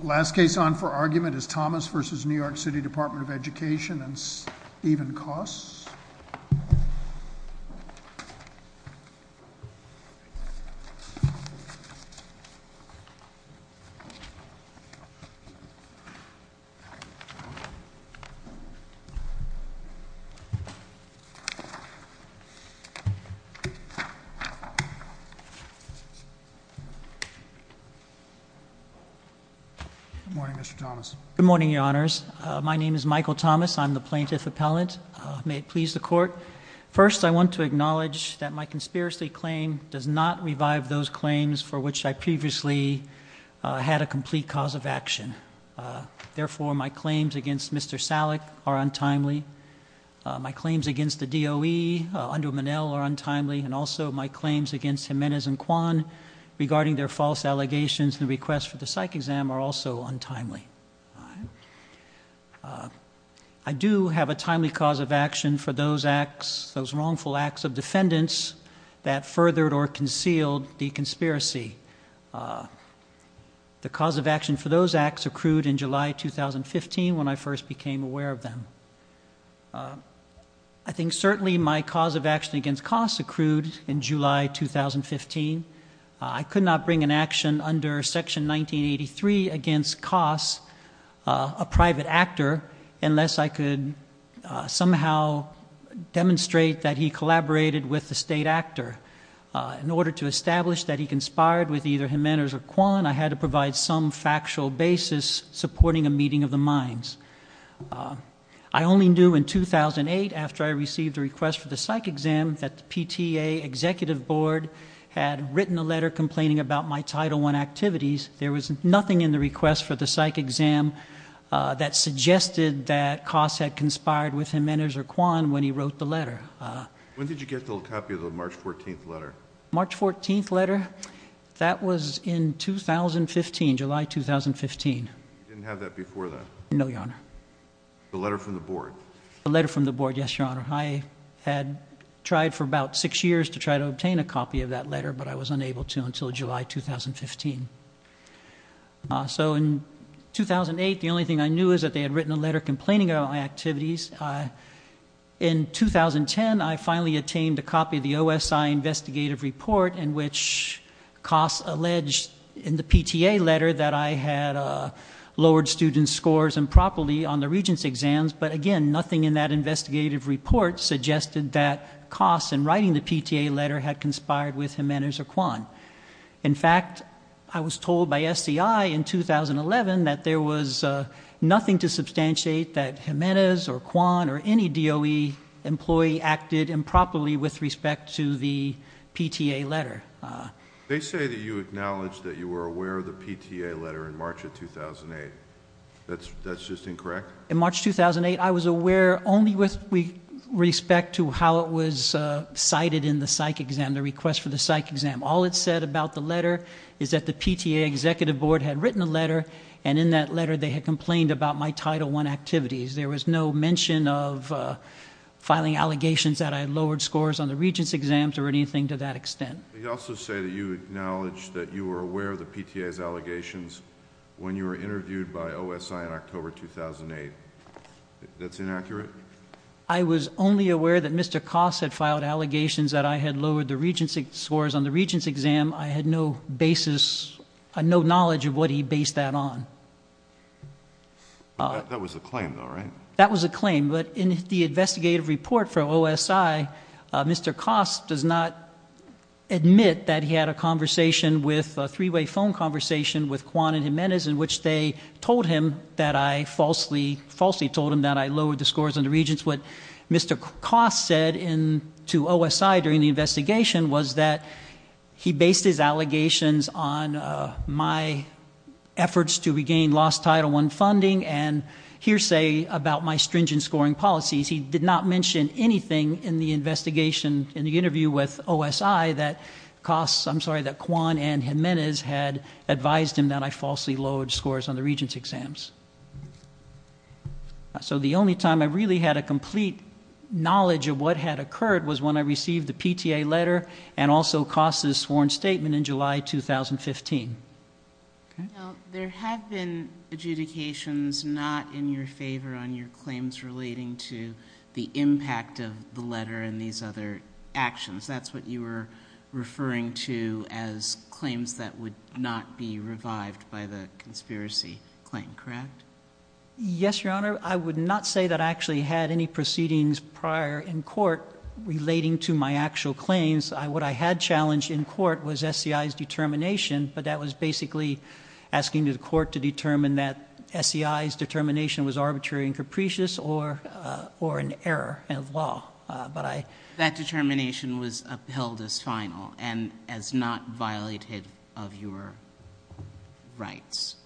The last case on for argument is Thomas v. New York City Department of Education and Steven Koss. Good morning, Mr. Thomas. Good morning, Your Honors. My name is Michael Thomas. I'm the Plaintiff Appellant. May it please the Court. First, I want to acknowledge that my conspiracy claim does not revive those claims for which I previously had a complete cause of action. Therefore, my claims against Mr. Salek are untimely. My claims against the DOE, Undo Monell, are untimely. And also, my claims against Jimenez and Kwan regarding their false allegations in the request for the psych exam are also untimely. I do have a timely cause of action for those wrongful acts of defendants that furthered or concealed the conspiracy. The cause of action for those acts accrued in July 2015 when I first became aware of them. I think certainly my cause of action against Koss accrued in July 2015. I could not bring an action under Section 1983 against Koss, a private actor, unless I could somehow demonstrate that he collaborated with the state actor In order to establish that he conspired with either Jimenez or Kwan, I had to provide some factual basis supporting a meeting of the minds. I only knew in 2008, after I received a request for the psych exam, that the PTA executive board had written a letter complaining about my Title I activities. There was nothing in the request for the psych exam that suggested that Koss had conspired with Jimenez or Kwan when he wrote the letter. When did you get the copy of the March 14th letter? March 14th letter? That was in 2015, July 2015. You didn't have that before then? No, Your Honor. The letter from the board? The letter from the board, yes, Your Honor. I had tried for about six years to try to obtain a copy of that letter, but I was unable to until July 2015. So in 2008, the only thing I knew was that they had written a letter complaining about my activities. In 2010, I finally obtained a copy of the OSI investigative report in which Koss alleged in the PTA letter that I had lowered students' scores improperly on the regents' exams. But again, nothing in that investigative report suggested that Koss, in writing the PTA letter, had conspired with Jimenez or Kwan. In fact, I was told by SCI in 2011 that there was nothing to substantiate that Jimenez or Kwan or any DOE employee acted improperly with respect to the PTA letter. They say that you acknowledged that you were aware of the PTA letter in March of 2008. That's just incorrect? In March 2008, I was aware only with respect to how it was cited in the psych exam, the request for the psych exam. All it said about the letter is that the PTA executive board had written a letter, and in that letter they had complained about my Title I activities. There was no mention of filing allegations that I had lowered scores on the regents' exams or anything to that extent. They also say that you acknowledged that you were aware of the PTA's allegations when you were interviewed by OSI in October 2008. That's inaccurate? I was only aware that Mr. Koss had filed allegations that I had lowered the regents' scores on the regents' exam. I had no basis, no knowledge of what he based that on. That was a claim, though, right? That was a claim, but in the investigative report for OSI, Mr. Koss does not admit that he had a three-way phone conversation with Kwan and Jimenez, in which they falsely told him that I lowered the scores on the regents'. What Mr. Koss said to OSI during the investigation was that he based his allegations on my efforts to regain lost Title I funding and hearsay about my stringent scoring policies. He did not mention anything in the investigation, in the interview with OSI, that Kwan and Jimenez had advised him that I falsely lowered scores on the regents' exams. So the only time I really had a complete knowledge of what had occurred was when I received the PTA letter and also Koss's sworn statement in July 2015. Now, there have been adjudications not in your favor on your claims relating to the impact of the letter and these other actions. That's what you were referring to as claims that would not be revived by the conspiracy claim, correct? Yes, Your Honor. I would not say that I actually had any proceedings prior in court relating to my actual claims. What I had challenged in court was SCI's determination, but that was basically asking the court to determine that SCI's determination was arbitrary and capricious or an error of law. That determination was upheld as final and as not violative of your rights.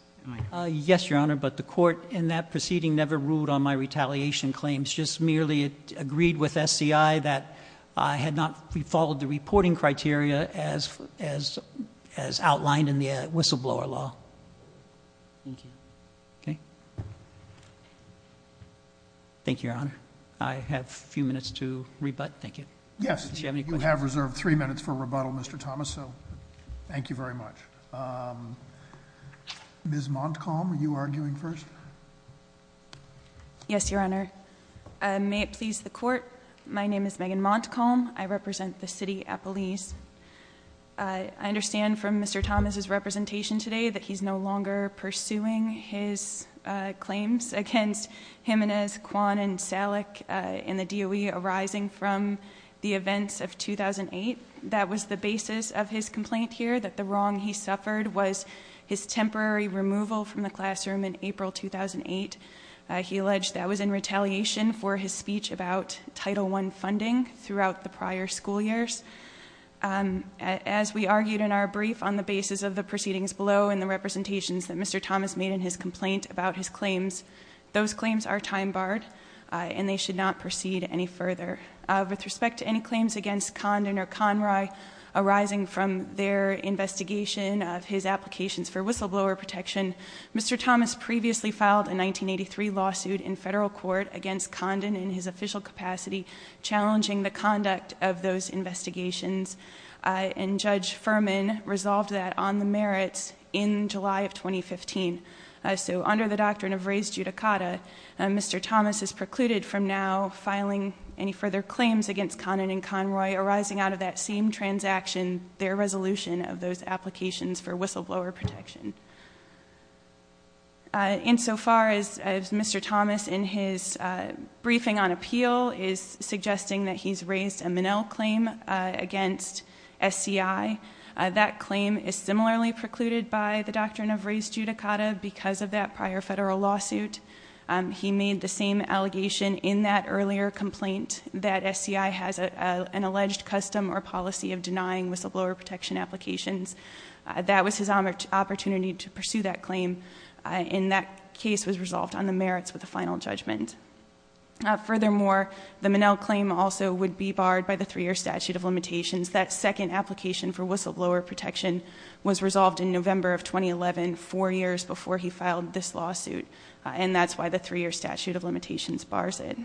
Yes, Your Honor, but the court in that proceeding never ruled on my retaliation claims. It just merely agreed with SCI that I had not followed the reporting criteria as outlined in the whistleblower law. Thank you. Thank you, Your Honor. I have a few minutes to rebut. Thank you. Yes. Do you have any questions? You have reserved three minutes for rebuttal, Mr. Thomas, so thank you very much. Ms. Montcalm, are you arguing first? Yes, Your Honor. May it please the court. My name is Megan Montcalm. I represent the city of Appalachia. I understand from Mr. Thomas' representation today that he's no longer pursuing his claims against Jimenez, Kwan, and Salek in the DOE arising from the events of 2008. That was the basis of his complaint here, that the wrong he suffered was his temporary removal from the classroom in April 2008. He alleged that was in retaliation for his speech about Title I funding throughout the prior school years. As we argued in our brief on the basis of the proceedings below and the representations that Mr. Thomas made in his complaint about his claims, those claims are time barred and they should not proceed any further. With respect to any claims against Condon or Conroy arising from their investigation of his applications for whistleblower protection, Mr. Thomas previously filed a 1983 lawsuit in federal court against Condon in his official capacity challenging the conduct of those investigations. And Judge Furman resolved that on the merits in July of 2015. So under the doctrine of raised judicata, Mr. Thomas is precluded from now filing any further claims against Condon and Conroy arising out of that same transaction, their resolution of those applications for whistleblower protection. Insofar as Mr. Thomas in his briefing on appeal is suggesting that he's raised a Minnell claim against SCI, that claim is similarly precluded by the doctrine of raised judicata because of that prior federal lawsuit. He made the same allegation in that earlier complaint that SCI has an alleged custom or policy of denying whistleblower protection applications. That was his opportunity to pursue that claim. And that case was resolved on the merits with a final judgment. Furthermore, the Minnell claim also would be barred by the three-year statute of limitations. That second application for whistleblower protection was resolved in November of 2011, four years before he filed this lawsuit. And that's why the three-year statute of limitations bars it.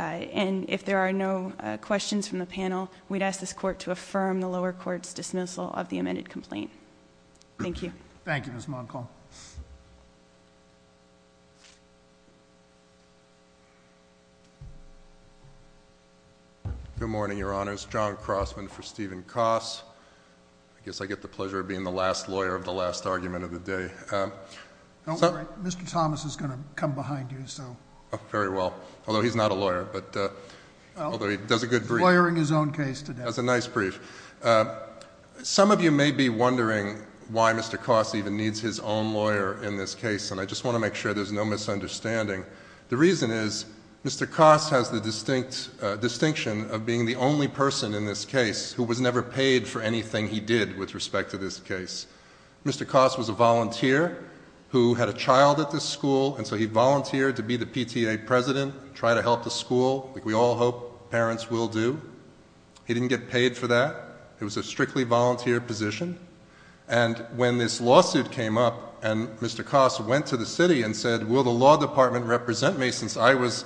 And if there are no questions from the panel, we'd ask this court to affirm the lower court's dismissal of the amended complaint. Thank you. Thank you, Ms. Monkholm. Good morning, Your Honors. John Crossman for Stephen Koss. I guess I get the pleasure of being the last lawyer of the last argument of the day. Mr. Thomas is going to come behind you, so. Very well. Although he's not a lawyer, but although he does a good brief. Lawyering his own case today. That was a nice brief. Some of you may be wondering why Mr. Koss even needs his own lawyer in this case, and I just want to make sure there's no misunderstanding. The reason is Mr. Koss has the distinct distinction of being the only person in this case who was never paid for anything he did with respect to this case. Mr. Koss was a volunteer who had a child at this school, and so he volunteered to be the PTA president, try to help the school, like we all hope parents will do. He didn't get paid for that. It was a strictly volunteer position, and when this lawsuit came up and Mr. Koss went to the city and said, Will the law department represent me since I was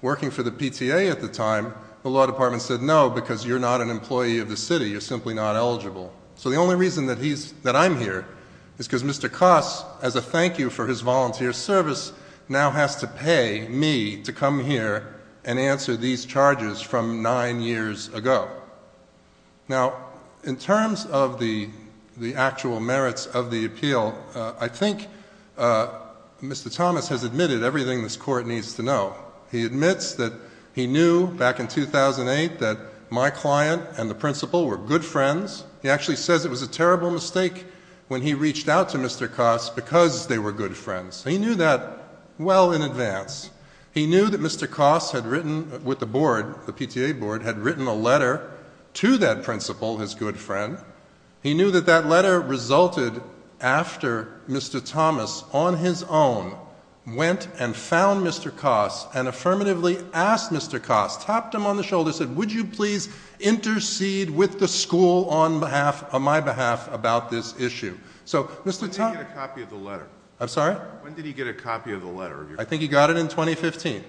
working for the PTA at the time? The law department said, No, because you're not an employee of the city. You're simply not eligible. So the only reason that I'm here is because Mr. Koss, as a thank you for his volunteer service, now has to pay me to come here and answer these charges from nine years ago. Now, in terms of the actual merits of the appeal, I think Mr. Thomas has admitted everything this court needs to know. He admits that he knew back in 2008 that my client and the principal were good friends. He actually says it was a terrible mistake when he reached out to Mr. Koss because they were good friends. He knew that well in advance. He knew that Mr. Koss had written with the board, the PTA board, had written a letter to that principal, his good friend. He knew that that letter resulted after Mr. Thomas, on his own, went and found Mr. Koss and affirmatively asked Mr. Koss, tapped him on the shoulder and said, Would you please intercede with the school on my behalf about this issue? When did he get a copy of the letter? I'm sorry? When did he get a copy of the letter? I think he got it in 2015.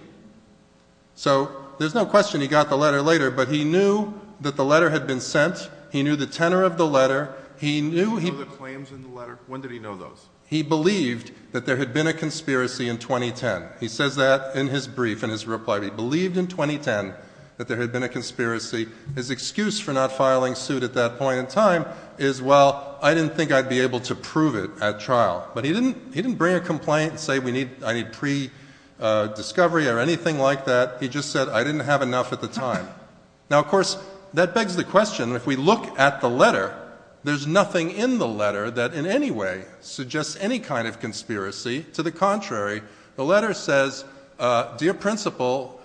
So there's no question he got the letter later, but he knew that the letter had been sent. He knew the tenor of the letter. Did he know the claims in the letter? When did he know those? He believed that there had been a conspiracy in 2010. He says that in his brief, in his reply. He believed in 2010 that there had been a conspiracy. His excuse for not filing suit at that point in time is, Well, I didn't think I'd be able to prove it at trial. But he didn't bring a complaint and say, I need pre-discovery or anything like that. He just said, I didn't have enough at the time. Now, of course, that begs the question, if we look at the letter, there's nothing in the letter that in any way suggests any kind of conspiracy. To the contrary, the letter says, Dear Principal,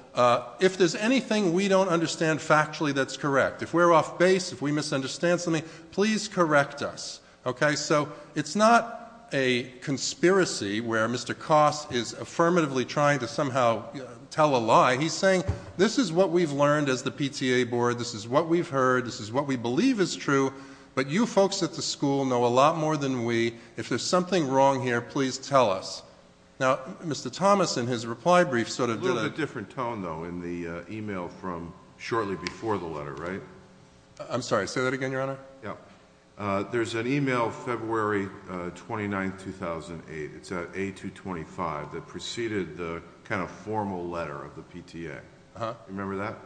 if there's anything we don't understand factually that's correct, if we're off base, if we misunderstand something, please correct us. OK, so it's not a conspiracy where Mr. Koss is affirmatively trying to somehow tell a lie. He's saying this is what we've learned as the PTA board. This is what we've heard. This is what we believe is true. But you folks at the school know a lot more than we. If there's something wrong here, please tell us. Now, Mr. Thomas, in his reply brief, sort of did a different tone, though, in the email from shortly before the letter, right? I'm sorry. Say that again, Your Honor. Yeah. There's an email February 29, 2008. It's a 225 that preceded the kind of formal letter of the PTA. Remember that?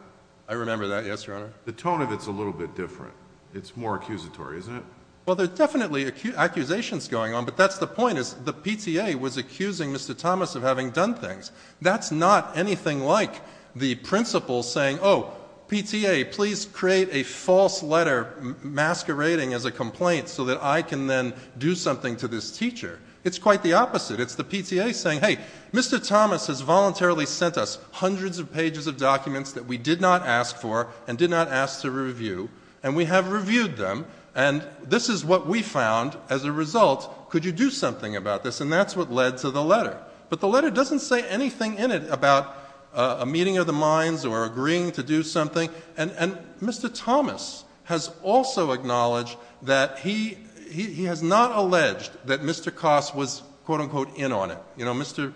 I remember that. Yes, Your Honor. The tone of it's a little bit different. It's more accusatory, isn't it? Well, there are definitely accusations going on, but that's the point, is the PTA was accusing Mr. Thomas of having done things. That's not anything like the principal saying, oh, PTA, please create a false letter masquerading as a complaint so that I can then do something to this teacher. It's quite the opposite. It's the PTA saying, hey, Mr. Thomas has voluntarily sent us hundreds of pages of documents that we did not ask for and did not ask to review, and we have reviewed them. And this is what we found as a result. Could you do something about this? And that's what led to the letter. But the letter doesn't say anything in it about a meeting of the minds or agreeing to do something. And Mr. Thomas has also acknowledged that he has not alleged that Mr. Koss was, quote-unquote, in on it. You know, Mr.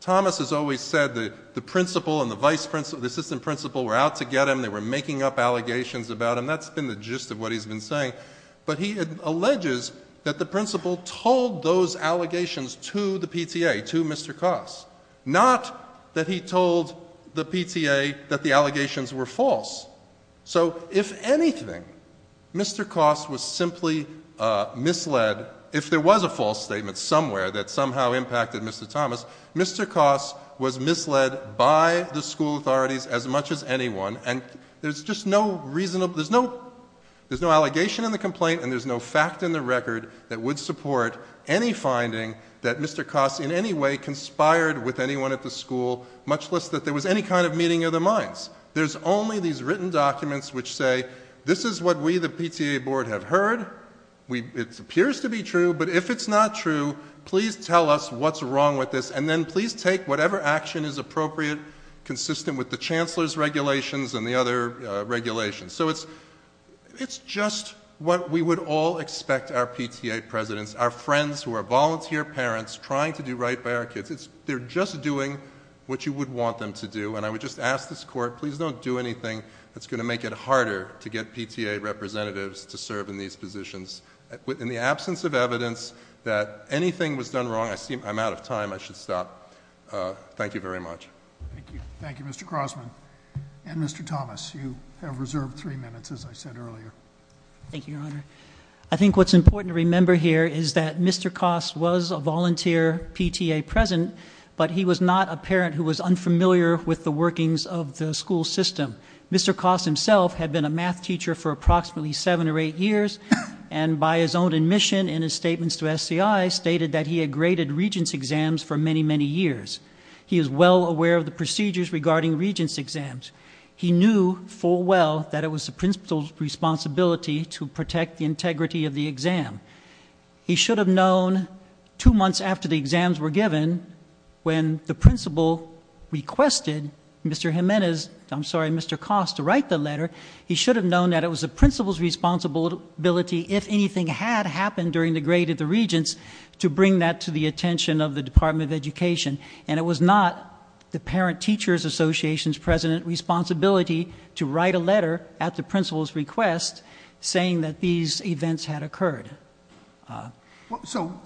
Thomas has always said the principal and the assistant principal were out to get him. They were making up allegations about him. And that's been the gist of what he's been saying. But he alleges that the principal told those allegations to the PTA, to Mr. Koss, not that he told the PTA that the allegations were false. So if anything, Mr. Koss was simply misled. If there was a false statement somewhere that somehow impacted Mr. Thomas, Mr. Koss was misled by the school authorities as much as anyone. And there's just no reason, there's no allegation in the complaint and there's no fact in the record that would support any finding that Mr. Koss in any way conspired with anyone at the school, much less that there was any kind of meeting of the minds. There's only these written documents which say, this is what we, the PTA Board, have heard. It appears to be true. But if it's not true, please tell us what's wrong with this. And then please take whatever action is appropriate, consistent with the Chancellor's regulations and the other regulations. So it's just what we would all expect our PTA presidents, our friends who are volunteer parents trying to do right by our kids. They're just doing what you would want them to do. And I would just ask this Court, please don't do anything that's going to make it harder to get PTA representatives to serve in these positions. In the absence of evidence that anything was done wrong, I'm out of time, I should stop. Thank you very much. Thank you. Thank you, Mr. Crossman. And Mr. Thomas, you have reserved three minutes, as I said earlier. Thank you, Your Honor. I think what's important to remember here is that Mr. Koss was a volunteer PTA president, but he was not a parent who was unfamiliar with the workings of the school system. Mr. Koss himself had been a math teacher for approximately seven or eight years, and by his own admission in his statements to SCI, stated that he had graded Regents exams for many, many years. He is well aware of the procedures regarding Regents exams. He knew full well that it was the principal's responsibility to protect the integrity of the exam. He should have known two months after the exams were given, when the principal requested Mr. Jimenez, I'm sorry, Mr. Koss to write the letter, he should have known that it was the principal's responsibility, if anything had happened during the grade of the Regents, to bring that to the attention of the Department of Education. And it was not the parent teacher's association's president's responsibility to write a letter at the principal's request saying that these events had occurred. So,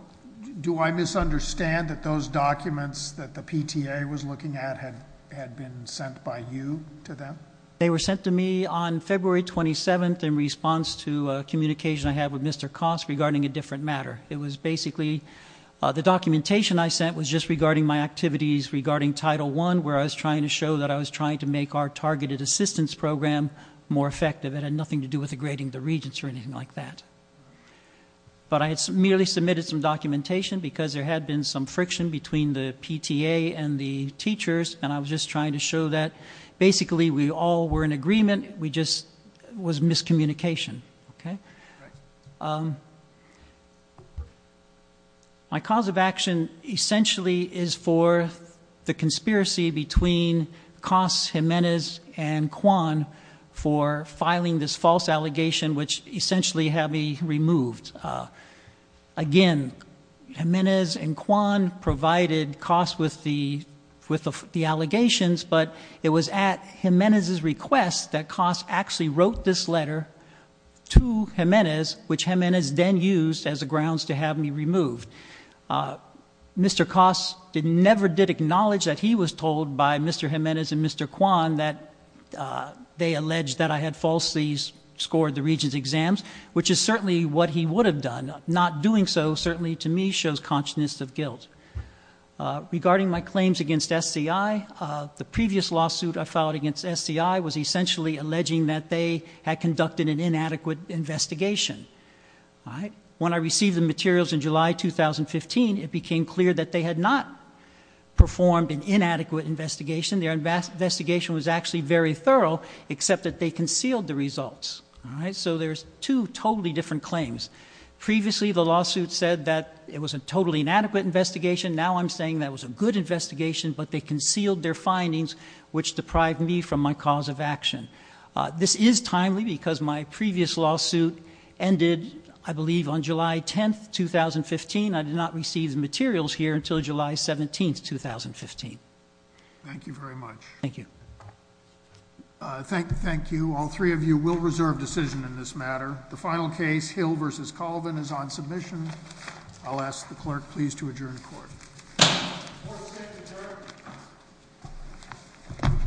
do I misunderstand that those documents that the PTA was looking at had been sent by you to them? They were sent to me on February 27th in response to a communication I had with Mr. Koss regarding a different matter. It was basically, the documentation I sent was just regarding my activities regarding Title I, where I was trying to show that I was trying to make our targeted assistance program more effective. It had nothing to do with the grading of the Regents or anything like that. But I had merely submitted some documentation because there had been some friction between the PTA and the teachers, and I was just trying to show that basically we all were in agreement, it was just miscommunication. Okay? My cause of action essentially is for the conspiracy between Koss, Jimenez, and Kwan for filing this false allegation, which essentially had me removed. Again, Jimenez and Kwan provided Koss with the allegations, but it was at Jimenez's request that Koss actually wrote this letter to Jimenez, which Jimenez then used as a grounds to have me removed. Mr. Koss never did acknowledge that he was told by Mr. Jimenez and Mr. Kwan that they alleged that I had falsely scored the Regents' exams, which is certainly what he would have done. Not doing so certainly, to me, shows consciousness of guilt. Regarding my claims against SCI, the previous lawsuit I filed against SCI was essentially alleging that they had conducted an inadequate investigation. When I received the materials in July 2015, it became clear that they had not performed an inadequate investigation. Their investigation was actually very thorough, except that they concealed the results. All right? So there's two totally different claims. Previously, the lawsuit said that it was a totally inadequate investigation. Now I'm saying that it was a good investigation, but they concealed their findings, which deprived me from my cause of action. This is timely because my previous lawsuit ended, I believe, on July 10, 2015. I did not receive the materials here until July 17, 2015. Thank you very much. Thank you. Thank you. All three of you will reserve decision in this matter. The final case, Hill v. Colvin, is on submission. I'll ask the clerk please to adjourn the court. Court is adjourned.